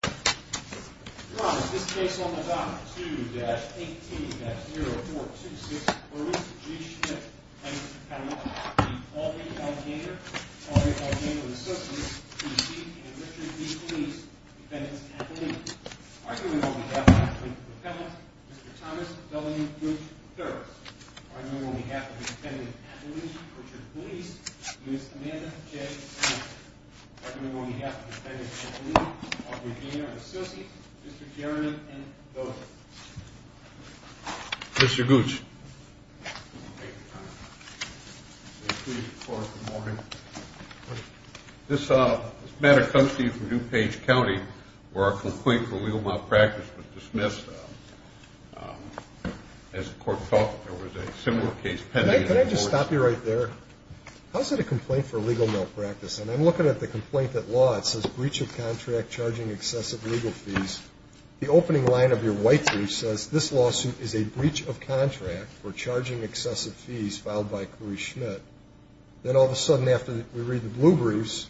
Your Honor, in this case on the dock, 2-18-0426, Larissa G. Schmidt, plaintiff's appellant, the Aubrey Calgaynor, Aubrey Calgaynor and Associates, D.C., and Richard B. Police, defendants' appellant. Arguing on behalf of the plaintiff's appellant, Mr. Thomas W. Gooch, therapist. Arguing on behalf of the defendant's appellant, Richard Police, Ms. Amanda J. Spencer. Arguing on behalf of the defendant's appellant, Aubrey Calgaynor and Associates, Mr. Chairman, and those... Mr. Gooch. This matter comes to you from DuPage County, where a complaint for legal malpractice was dismissed. As the court thought, there was a similar case pending... Can I just stop you right there? How is it a complaint for legal malpractice? And I'm looking at the complaint at law. It says, breach of contract, charging excessive legal fees. The opening line of your white brief says, this lawsuit is a breach of contract for charging excessive fees filed by Carice Schmidt. Then, all of a sudden, after we read the blue briefs,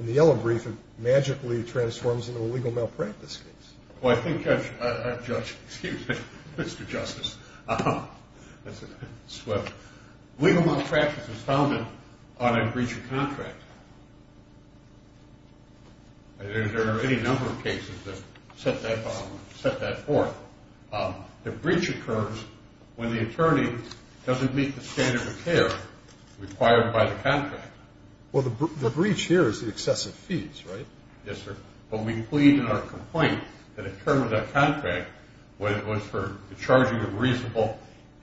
in the yellow brief, it magically transforms into a legal malpractice case. Well, I think I've judged... Excuse me, Mr. Justice. Legal malpractice is founded on a breach of contract. There are any number of cases that set that forth. The breach occurs when the attorney doesn't meet the standard of care required by the contract. Well, the breach here is the excessive fees, right? Yes, sir. But we plead in our complaint that a term of that contract, whether it was for the charging of reasonable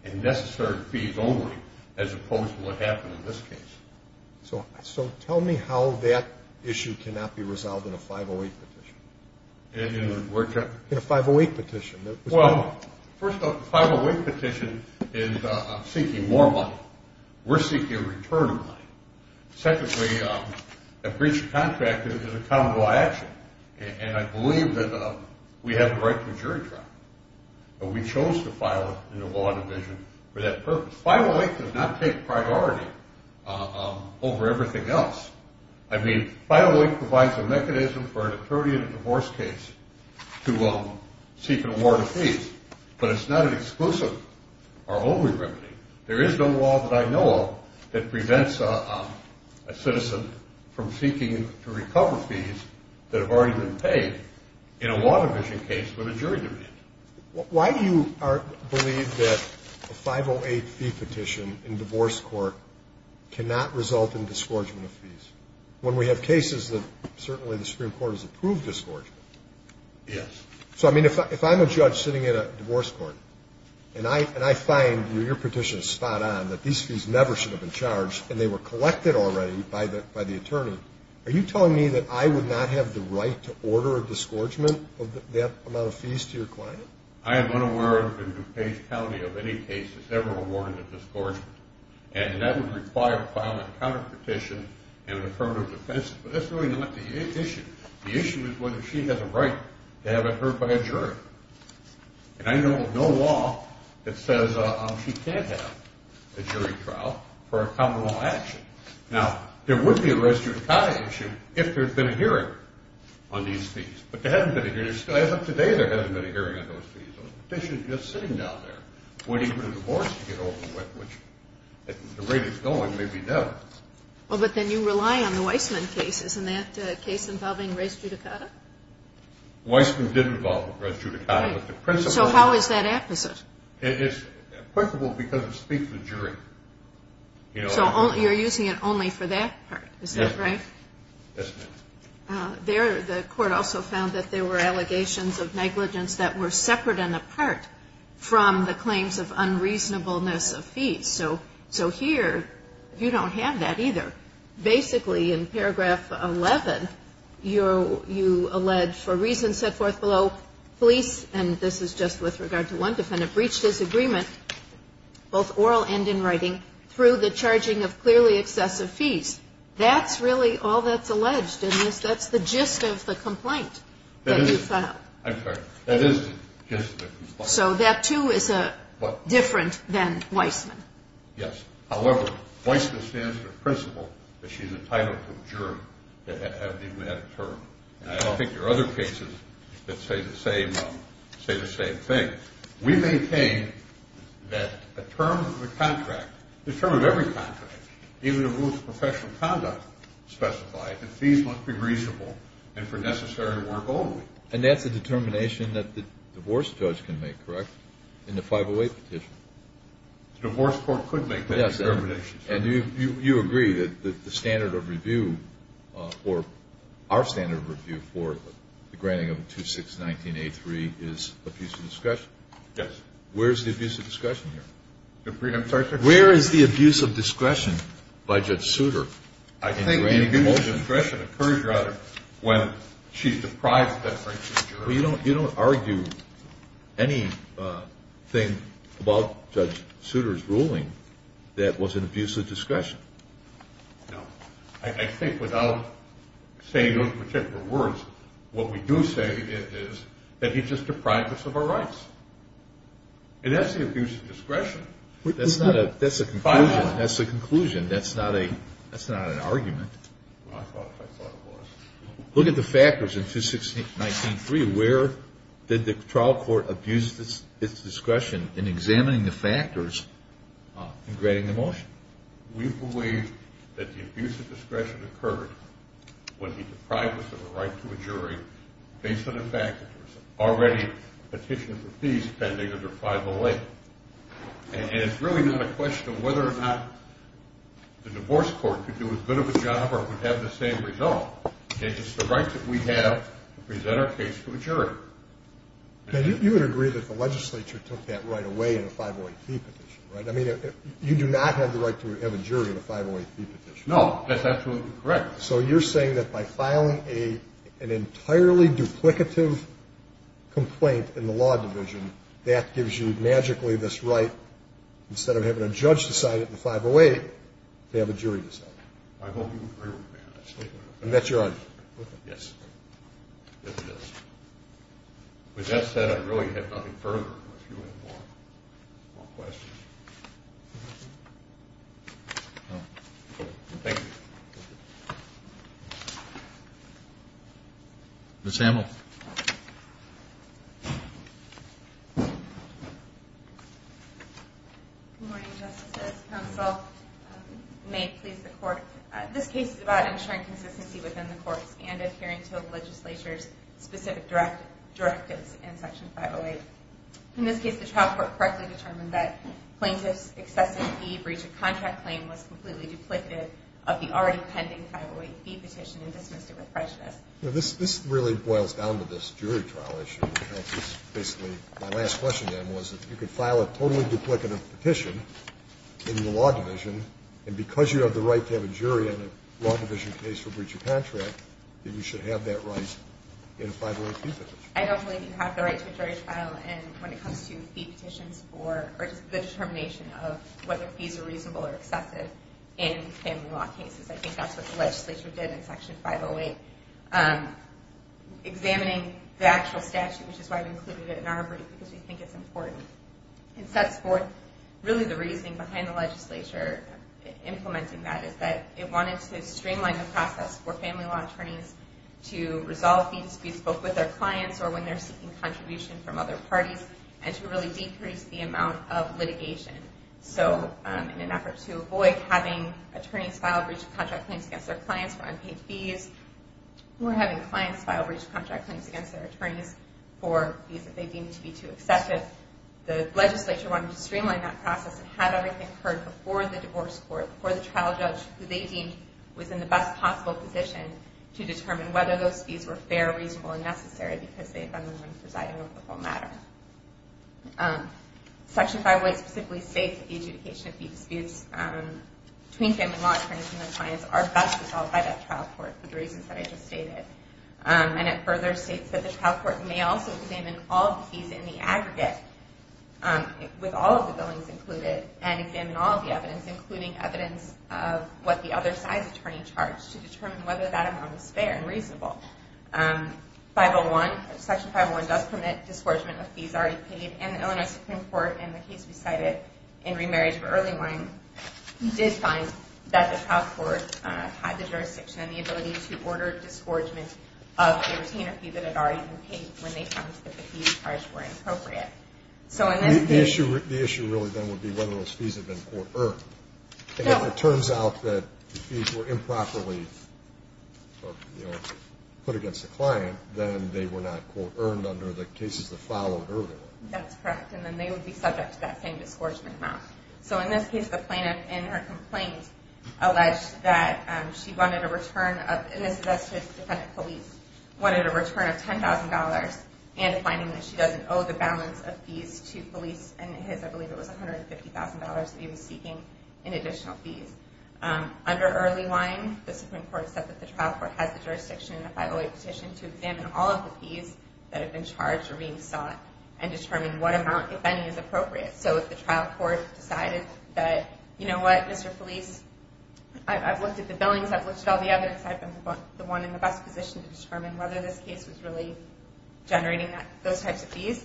and necessary fees only, as opposed to what happened in this case. So tell me how that issue cannot be resolved in a 508 petition. In a what? In a 508 petition. Well, first of all, the 508 petition is seeking more money. We're seeking a return of money. Secondly, a breach of contract is a common law action, and I believe that we have the right to a jury trial. But we chose to file it in the law division for that purpose. 508 does not take priority over everything else. I mean, 508 provides a mechanism for an attorney in a divorce case to seek an award of fees, but it's not an exclusive or only remedy. There is no law that I know of that prevents a citizen from seeking to recover fees that have already been paid in a law division case with a jury division. Why do you believe that a 508 fee petition in divorce court cannot result in disgorgement of fees? When we have cases that certainly the Supreme Court has approved disgorgement. Yes. So, I mean, if I'm a judge sitting at a divorce court and I find your petition is spot on that these fees never should have been charged and they were collected already by the attorney, are you telling me that I would not have the right to order a disgorgement of that amount of fees to your client? I am unaware of, in DuPage County, of any cases ever awarded a disgorgement, and that would require filing a counterpetition and an affirmative defense, but that's really not the issue. The issue is whether she has a right to have it heard by a jury, and I know of no law that says she can't have a jury trial for a common law action. Now, there would be a res judicata issue if there had been a hearing on these fees, but there hasn't been a hearing. As of today, there hasn't been a hearing on those fees. The petition is just sitting down there waiting for the divorce to get over with, which, at the rate it's going, may be done. Well, but then you rely on the Weissman case. Isn't that a case involving res judicata? Weissman did involve res judicata. So how is that apposite? It's applicable because it speaks to the jury. So you're using it only for that part, is that right? Yes, ma'am. The court also found that there were allegations of negligence that were separate and apart from the claims of unreasonableness of fees. So here, you don't have that either. Basically, in paragraph 11, you allege, for reasons set forth below, police, and this is just with regard to one defendant, breached his agreement, both oral and in writing, through the charging of clearly excessive fees. That's really all that's alleged in this. That's the gist of the complaint that you filed. I'm sorry. That is the gist of the complaint. So that, too, is different than Weissman? Yes. However, Weissman stands to the principle that she's entitled to adjourn. I don't think there are other cases that say the same thing. We maintain that the term of the contract, the term of every contract, even the rules of professional conduct specify that fees must be reasonable and for necessary work only. And that's a determination that the divorce judge can make, correct, in the 508 petition? The divorce court could make that determination. Yes. And you agree that the standard of review or our standard of review for the granting of 2619A3 is abuse of discretion? Yes. Where is the abuse of discretion here? I'm sorry, Judge? Where is the abuse of discretion by Judge Souter in granting the motion? The abuse of discretion occurs, rather, when she's deprived of that right to adjourn. You don't argue anything about Judge Souter's ruling that was an abuse of discretion? No. I think without saying those particular words, what we do say is that he's just deprived us of our rights. And that's the abuse of discretion. That's the conclusion. That's not an argument. I thought it was. Look at the factors in 2619A3. Where did the trial court abuse its discretion in examining the factors in granting the motion? We believe that the abuse of discretion occurred when he deprived us of the right to adjourn based on the fact that there's already a petition for fees pending under 508. And it's really not a question of whether or not the divorce court could do as good of a job or would have the same result. It's the right that we have to present our case to a jury. You would agree that the legislature took that right away in a 508c petition, right? I mean, you do not have the right to have a jury in a 508c petition. No, that's absolutely correct. So you're saying that by filing an entirely duplicative complaint in the law division, that gives you magically this right, instead of having a judge decide it in a 508, to have a jury decide it? I hope you agree with me on that statement. And that's your argument? Yes. Yes, it is. With that said, I really have nothing further. If you have more questions. No. Thank you. Ms. Hamill. Good morning, Justices, Counsel. May it please the Court. This case is about ensuring consistency within the courts and adhering to the legislature's specific directives in Section 508. In this case, the trial court correctly determined that plaintiff's excessive fee breach of contract claim was completely duplicative of the already pending 508c petition and dismissed it with prejudice. This really boils down to this jury trial issue. Basically, my last question then was, if you could file a totally duplicative petition in the law division, and because you have the right to have a jury in a law division case for breach of contract, then you should have that right in a 508c petition. I don't believe you have the right to a jury trial. When it comes to fee petitions, or the determination of whether fees are reasonable or excessive in family law cases, I think that's what the legislature did in Section 508, examining the actual statute, which is why we included it in our brief, because we think it's important. It sets forth really the reasoning behind the legislature implementing that, is that it wanted to streamline the process for family law attorneys to resolve these disputes both with their clients or when they're seeking contribution from other parties, and to really decrease the amount of litigation. In an effort to avoid having attorneys file breach of contract claims against their clients for unpaid fees, or having clients file breach of contract claims against their attorneys for fees that they deem to be too excessive, the legislature wanted to streamline that process and had everything occurred before the divorce court, before the trial judge, who they deemed was in the best possible position to determine whether those fees were fair, reasonable, and necessary because they had been the ones presiding over the whole matter. Section 508 specifically states that the adjudication of fee disputes between family law attorneys and their clients are best resolved by that trial court, for the reasons that I just stated. And it further states that the trial court may also examine all the fees in the aggregate, with all of the billings included, and examine all of the evidence, including evidence of what the other side's attorney charged, to determine whether that amount was fair and reasonable. Section 501 does permit disgorgement of fees already paid, and the Illinois Supreme Court, in the case we cited in Remarriage for Early Warning, did find that the trial court had the jurisdiction and the ability to order disgorgement of a retainer fee that had already been paid when they found that the fees charged were inappropriate. The issue really then would be whether those fees had been court-earned. If it turns out that the fees were improperly put against the client, then they were not court-earned under the cases that followed earlier. That's correct, and then they would be subject to that same disgorgement amount. So in this case, the plaintiff, in her complaint, alleged that she wanted a return of $10,000, and finding that she doesn't owe the balance of fees to Felice and his, I believe it was $150,000 that he was seeking in additional fees. Under Early Warning, the Supreme Court said that the trial court has the jurisdiction in the 508 petition to examine all of the fees that have been charged or being sought, and determine what amount, if any, is appropriate. So if the trial court decided that, you know what, Mr. Felice, I've looked at the billings, I've looked at all the evidence, and Felice had been the one in the best position to determine whether this case was really generating those types of fees.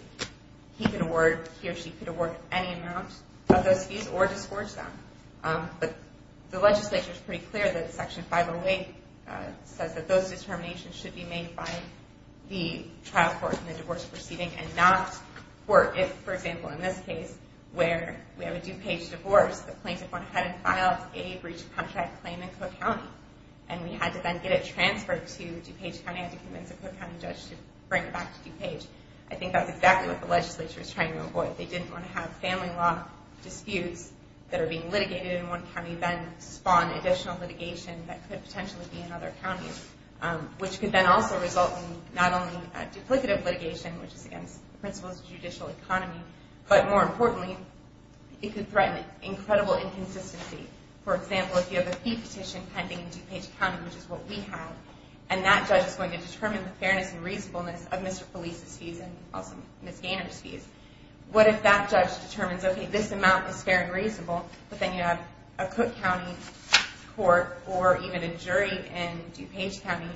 He could award, he or she could award any amount of those fees, or disgorge them. But the legislature is pretty clear that Section 508 says that those determinations should be made by the trial court in the divorce proceeding, and not court. If, for example, in this case, where we have a due page divorce, the plaintiff went ahead and filed a breach of contract claim in Cook County, and we had to then get it transferred to DuPage County. I had to convince a Cook County judge to bring it back to DuPage. I think that's exactly what the legislature is trying to avoid. If they didn't want to have family law disputes that are being litigated in one county, then spawn additional litigation that could potentially be in other counties, which could then also result in not only duplicative litigation, which is against the principles of judicial economy, but more importantly, it could threaten incredible inconsistency. For example, if you have a fee petition pending in DuPage County, which is what we have, and that judge is going to determine the fairness and reasonableness of Mr. Felice's fees and also Ms. Gaynor's fees. What if that judge determines, okay, this amount is fair and reasonable, but then you have a Cook County court, or even a jury in DuPage County,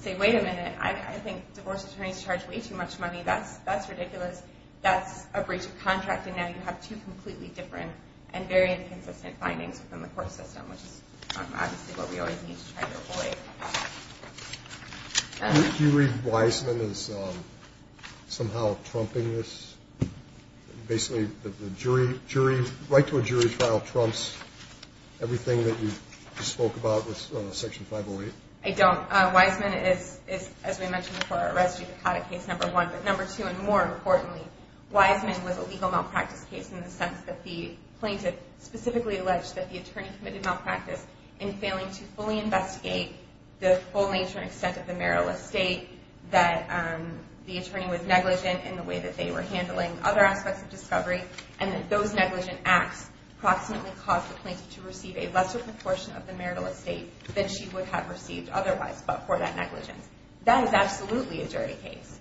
say, wait a minute, I think divorce attorneys charge way too much money, that's ridiculous, that's a breach of contract, and now you have two completely different and very inconsistent findings within the court system, which is obviously what we always need to try to avoid. Do you read Wiseman as somehow trumping this? Basically, right to a jury trial trumps everything that you spoke about with Section 508? I don't. Wiseman is, as we mentioned before, a res judicata case, number one. Number two, and more importantly, Wiseman was a legal malpractice case in the sense that the plaintiff specifically alleged that the attorney committed malpractice in failing to fully investigate the full nature and extent of the marital estate, that the attorney was negligent in the way that they were handling other aspects of discovery, and that those negligent acts approximately caused the plaintiff to receive a lesser proportion of the marital estate than she would have received otherwise, but for that negligence. That is absolutely a jury case.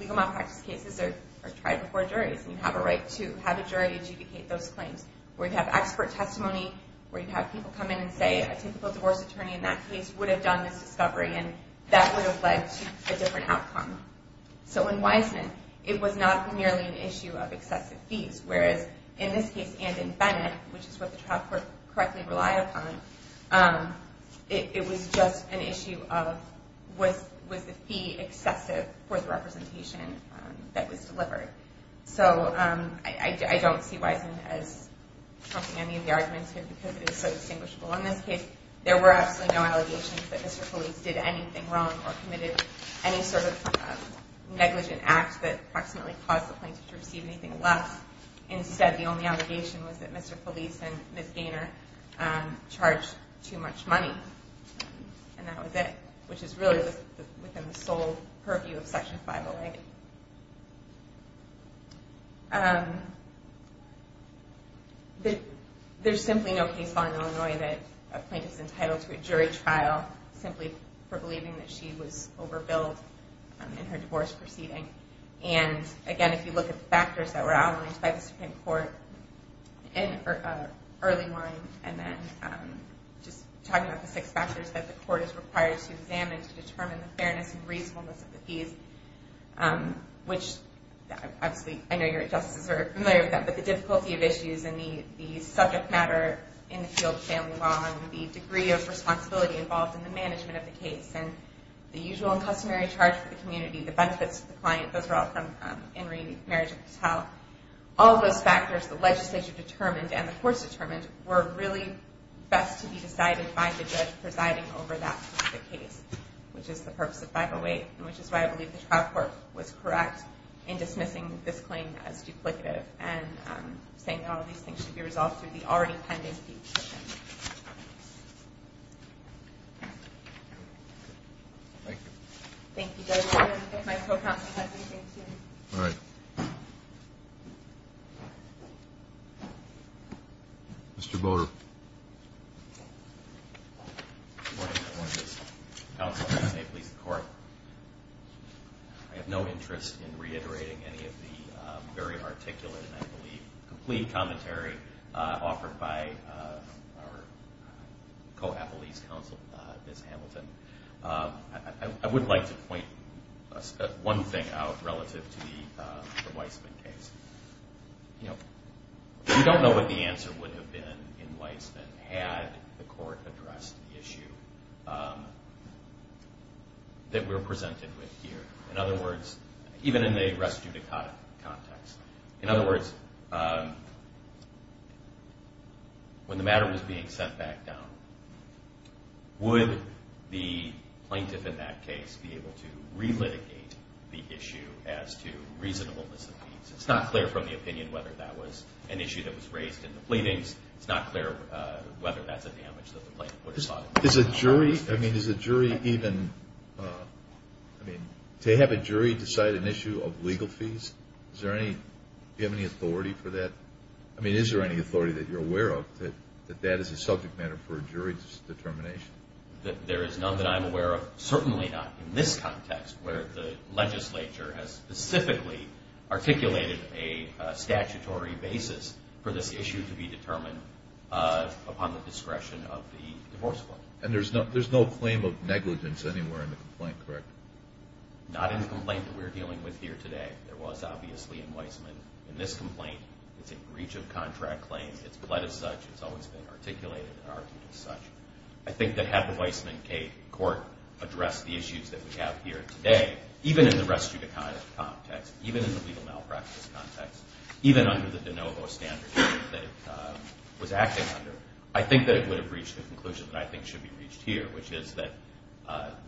Legal malpractice cases are tried before juries, and you have a right to have a jury adjudicate those claims. Where you have expert testimony, where you have people come in and say, a typical divorce attorney in that case would have done this discovery, and that would have led to a different outcome. So in Wiseman, it was not merely an issue of excessive fees, whereas in this case and in Bennett, which is what the trial court correctly relied upon, it was just an issue of was the fee excessive for the representation that was delivered. So I don't see Wiseman as trumping any of the arguments here because it is so distinguishable. In this case, there were absolutely no allegations that Mr. Felice did anything wrong or committed any sort of negligent act that approximately caused the plaintiff to receive anything less. Instead, the only allegation was that Mr. Felice and Ms. Gaynor charged too much money, and that was it, which is really within the sole purview of Section 508. There is simply no case law in Illinois that a plaintiff is entitled to a jury trial simply for believing that she was overbilled in her divorce proceeding. Again, if you look at the factors that were outlined by the Supreme Court in early line, and then just talking about the six factors that the court is required to examine to determine the fairness and reasonableness of the fees, which obviously I know your justices are familiar with that, but the difficulty of issues and the subject matter in the field of family law and the degree of responsibility involved in the management of the case and the usual and customary charge for the community, the benefits to the client, those are all from in re marriage of the child. All of those factors, the legislature determined and the courts determined, were really best to be decided by the judge presiding over that specific case, which is the purpose of 508, and which is why I believe the trial court was correct in dismissing this claim as duplicative and saying that all of these things should be resolved through the already pending petition. Thank you. Thank you, Judge. If my co-counsel has anything to say. All right. Mr. Boter. Good morning, Your Honor. Counsel, please say please to the court. I have no interest in reiterating any of the very articulate and I believe complete commentary offered by our co-appellee's counsel, Ms. Hamilton. I would like to point one thing out relative to the Weissman case. You know, we don't know what the answer would have been in Weissman had the court addressed the issue that we're presented with here. In other words, even in the res judicata context. In other words, when the matter was being sent back down, would the plaintiff in that case be able to relitigate the issue as to reasonableness of fees? It's not clear from the opinion whether that was an issue that was raised in the pleadings. It's not clear whether that's a damage that the plaintiff would have thought. Is a jury, I mean, is a jury even, I mean, to have a jury decide an issue of legal fees? Is there any, do you have any authority for that? I mean, is there any authority that you're aware of that that is a subject matter for a jury's determination? There is none that I'm aware of, certainly not in this context, where the legislature has specifically articulated a statutory basis for this issue to be determined upon the discretion of the divorce court. And there's no claim of negligence anywhere in the complaint, correct? Not in the complaint that we're dealing with here today. There was, obviously, in Weisman. In this complaint, it's a breach of contract claim. It's pled as such. It's always been articulated and argued as such. I think that had the Weisman K Court addressed the issues that we have here today, even in the res judicata context, even in the legal malpractice context, even under the de novo standards that it was acting under, I think that it would have reached the conclusion that I think should be reached here, which is that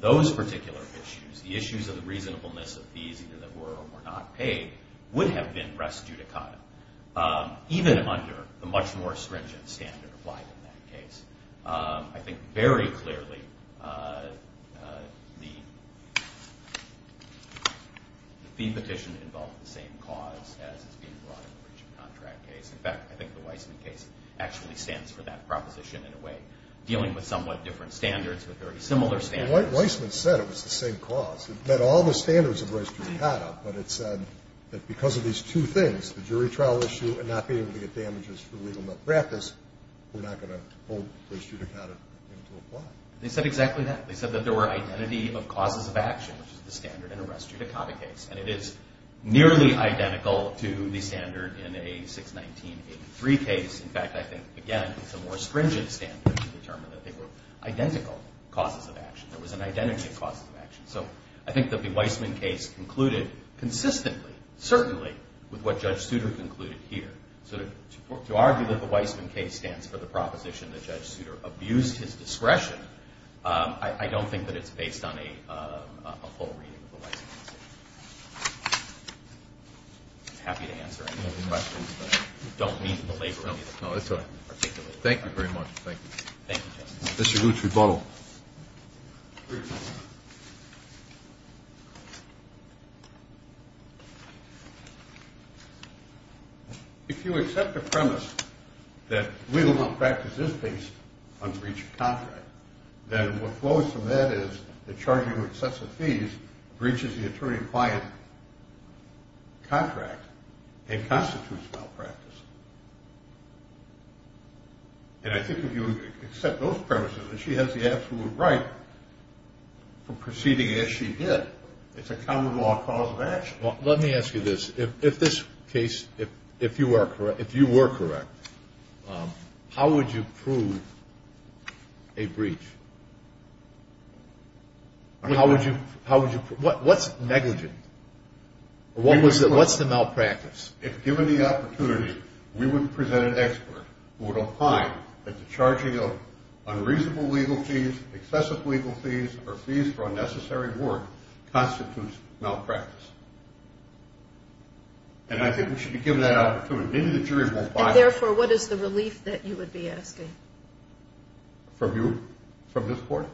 those particular issues, the issues of the reasonableness of fees, either that were or were not paid, would have been res judicata, even under the much more stringent standard applied in that case. I think very clearly the fee petition involved the same cause as is being brought in the breach of contract case. In fact, I think the Weisman case actually stands for that proposition in a way, dealing with somewhat different standards, with very similar standards. Weisman said it was the same cause. It met all the standards of res judicata, but it said that because of these two things, the jury trial issue and not being able to get damages for legal malpractice, we're not going to hold res judicata in to apply. They said exactly that. They said that there were identity of causes of action, which is the standard in a res judicata case, and it is nearly identical to the standard in a 61983 case. In fact, I think, again, it's a more stringent standard to determine that they were identical causes of action. There was an identity of causes of action. So I think that the Weisman case concluded consistently, certainly with what Judge Souter concluded here. So to argue that the Weisman case stands for the proposition that Judge Souter abused his discretion, I don't think that it's based on a full reading of the Weisman case. I'm happy to answer any of the questions, but I don't mean to belabor any of the questions. No, that's all right. Thank you very much. Thank you. Thank you, Justice. Mr. Lutz, rebuttal. If you accept the premise that legal malpractice is based on breach of contract, then what flows from that is that charging excessive fees breaches the attorney-acquired contract and constitutes malpractice. And I think if you accept those premises, that she has the absolute right from proceeding as she did, it's a common law cause of action. Let me ask you this. If this case, if you were correct, how would you prove a breach? How would you prove it? What's negligent? What's the malpractice? If given the opportunity, we would present an expert who would opine that the charging of unreasonable legal fees, excessive legal fees, or fees for unnecessary work constitutes malpractice. And I think we should be given that opportunity. And therefore, what is the relief that you would be asking? From you? From this court?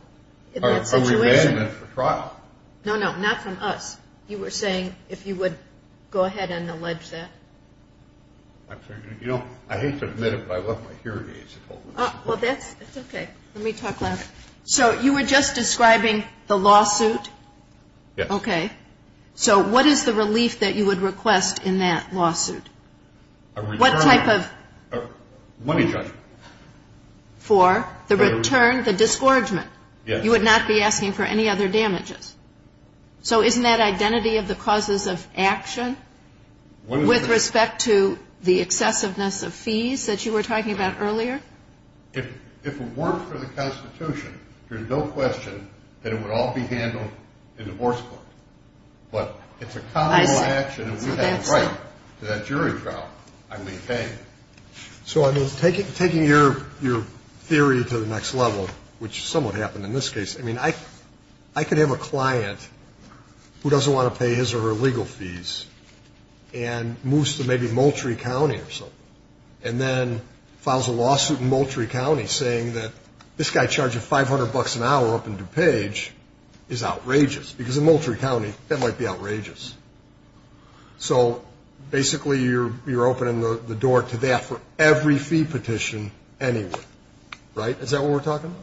In that situation? Or remandment for trial? No, no. Not from us. You were saying if you would go ahead and allege that. I'm sorry. You know, I hate to admit it, but I left my hearing aids at home. Well, that's okay. Let me talk about it. So you were just describing the lawsuit? Yes. Okay. So what is the relief that you would request in that lawsuit? A return. What type of? Money judgment. For the return, the disgorgement. Yes. You would not be asking for any other damages. So isn't that identity of the causes of action? With respect to the excessiveness of fees that you were talking about earlier? If it were for the Constitution, there's no question that it would all be handled in divorce court. But it's a common law action. I see. And we have a right to that jury trial, I maintain. Okay. So, I mean, taking your theory to the next level, which somewhat happened in this case, I mean, I could have a client who doesn't want to pay his or her legal fees and moves to maybe Moultrie County or something and then files a lawsuit in Moultrie County saying that this guy charged you $500 an hour up in DuPage is outrageous. Because in Moultrie County, that might be outrageous. So, basically, you're opening the door to that for every fee petition anywhere. Right? Is that what we're talking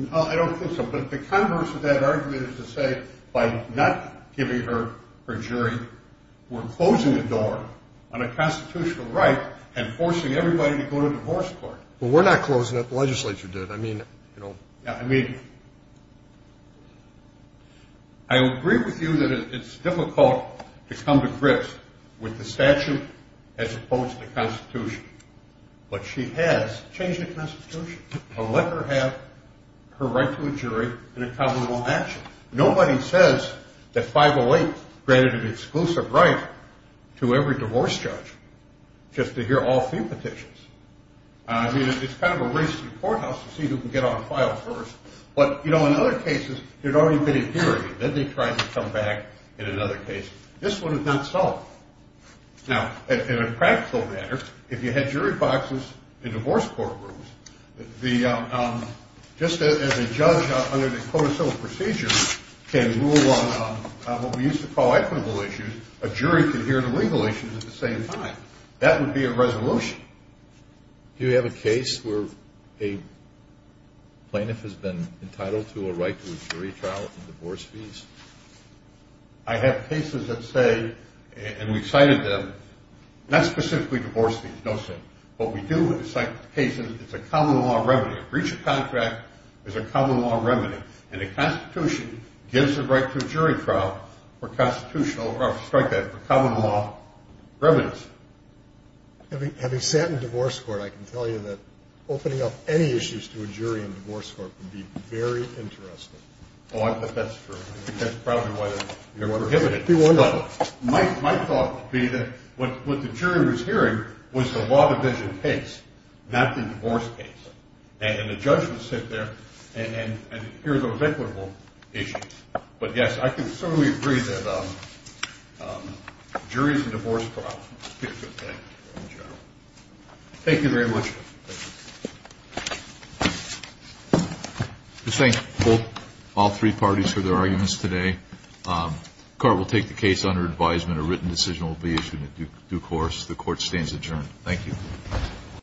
about? I don't think so. But the converse of that argument is to say by not giving her her jury, we're closing the door on a constitutional right and forcing everybody to go to divorce court. Well, we're not closing it. The legislature did. I mean, you know. I mean, I agree with you that it's difficult to come to grips with the statute as opposed to the Constitution. But she has changed the Constitution to let her have her right to a jury in a covenant action. Nobody says that 508 granted an exclusive right to every divorce judge just to hear all fee petitions. I mean, it's kind of a race to the courthouse to see who can get on file first. But, you know, in other cases, they'd already been adhering. Then they tried to come back in another case. This one is not so. Now, in a practical matter, if you had jury boxes in divorce court rooms, just as a judge under the codicil procedure can rule on what we used to call equitable issues, a jury can hear the legal issues at the same time. That would be a resolution. Do you have a case where a plaintiff has been entitled to a right to a jury trial and divorce fees? I have cases that say, and we've cited them, not specifically divorce fees. No, sir. What we do with the cases, it's a common law remedy. A breach of contract is a common law remedy. And the Constitution gives the right to a jury trial for constitutional strike that for common law remedies. Having sat in divorce court, I can tell you that opening up any issues to a jury in divorce court would be very interesting. Oh, I think that's true. I think that's probably why they're prohibiting it. My thought would be that what the jury was hearing was the law division case, not the divorce case. And the judge would sit there and hear those equitable issues. But, yes, I can certainly agree that juries and divorce trials are a good thing in general. Thank you very much. Thank you. I thank all three parties for their arguments today. The Court will take the case under advisement. A written decision will be issued in due course. The Court stands adjourned. Thank you.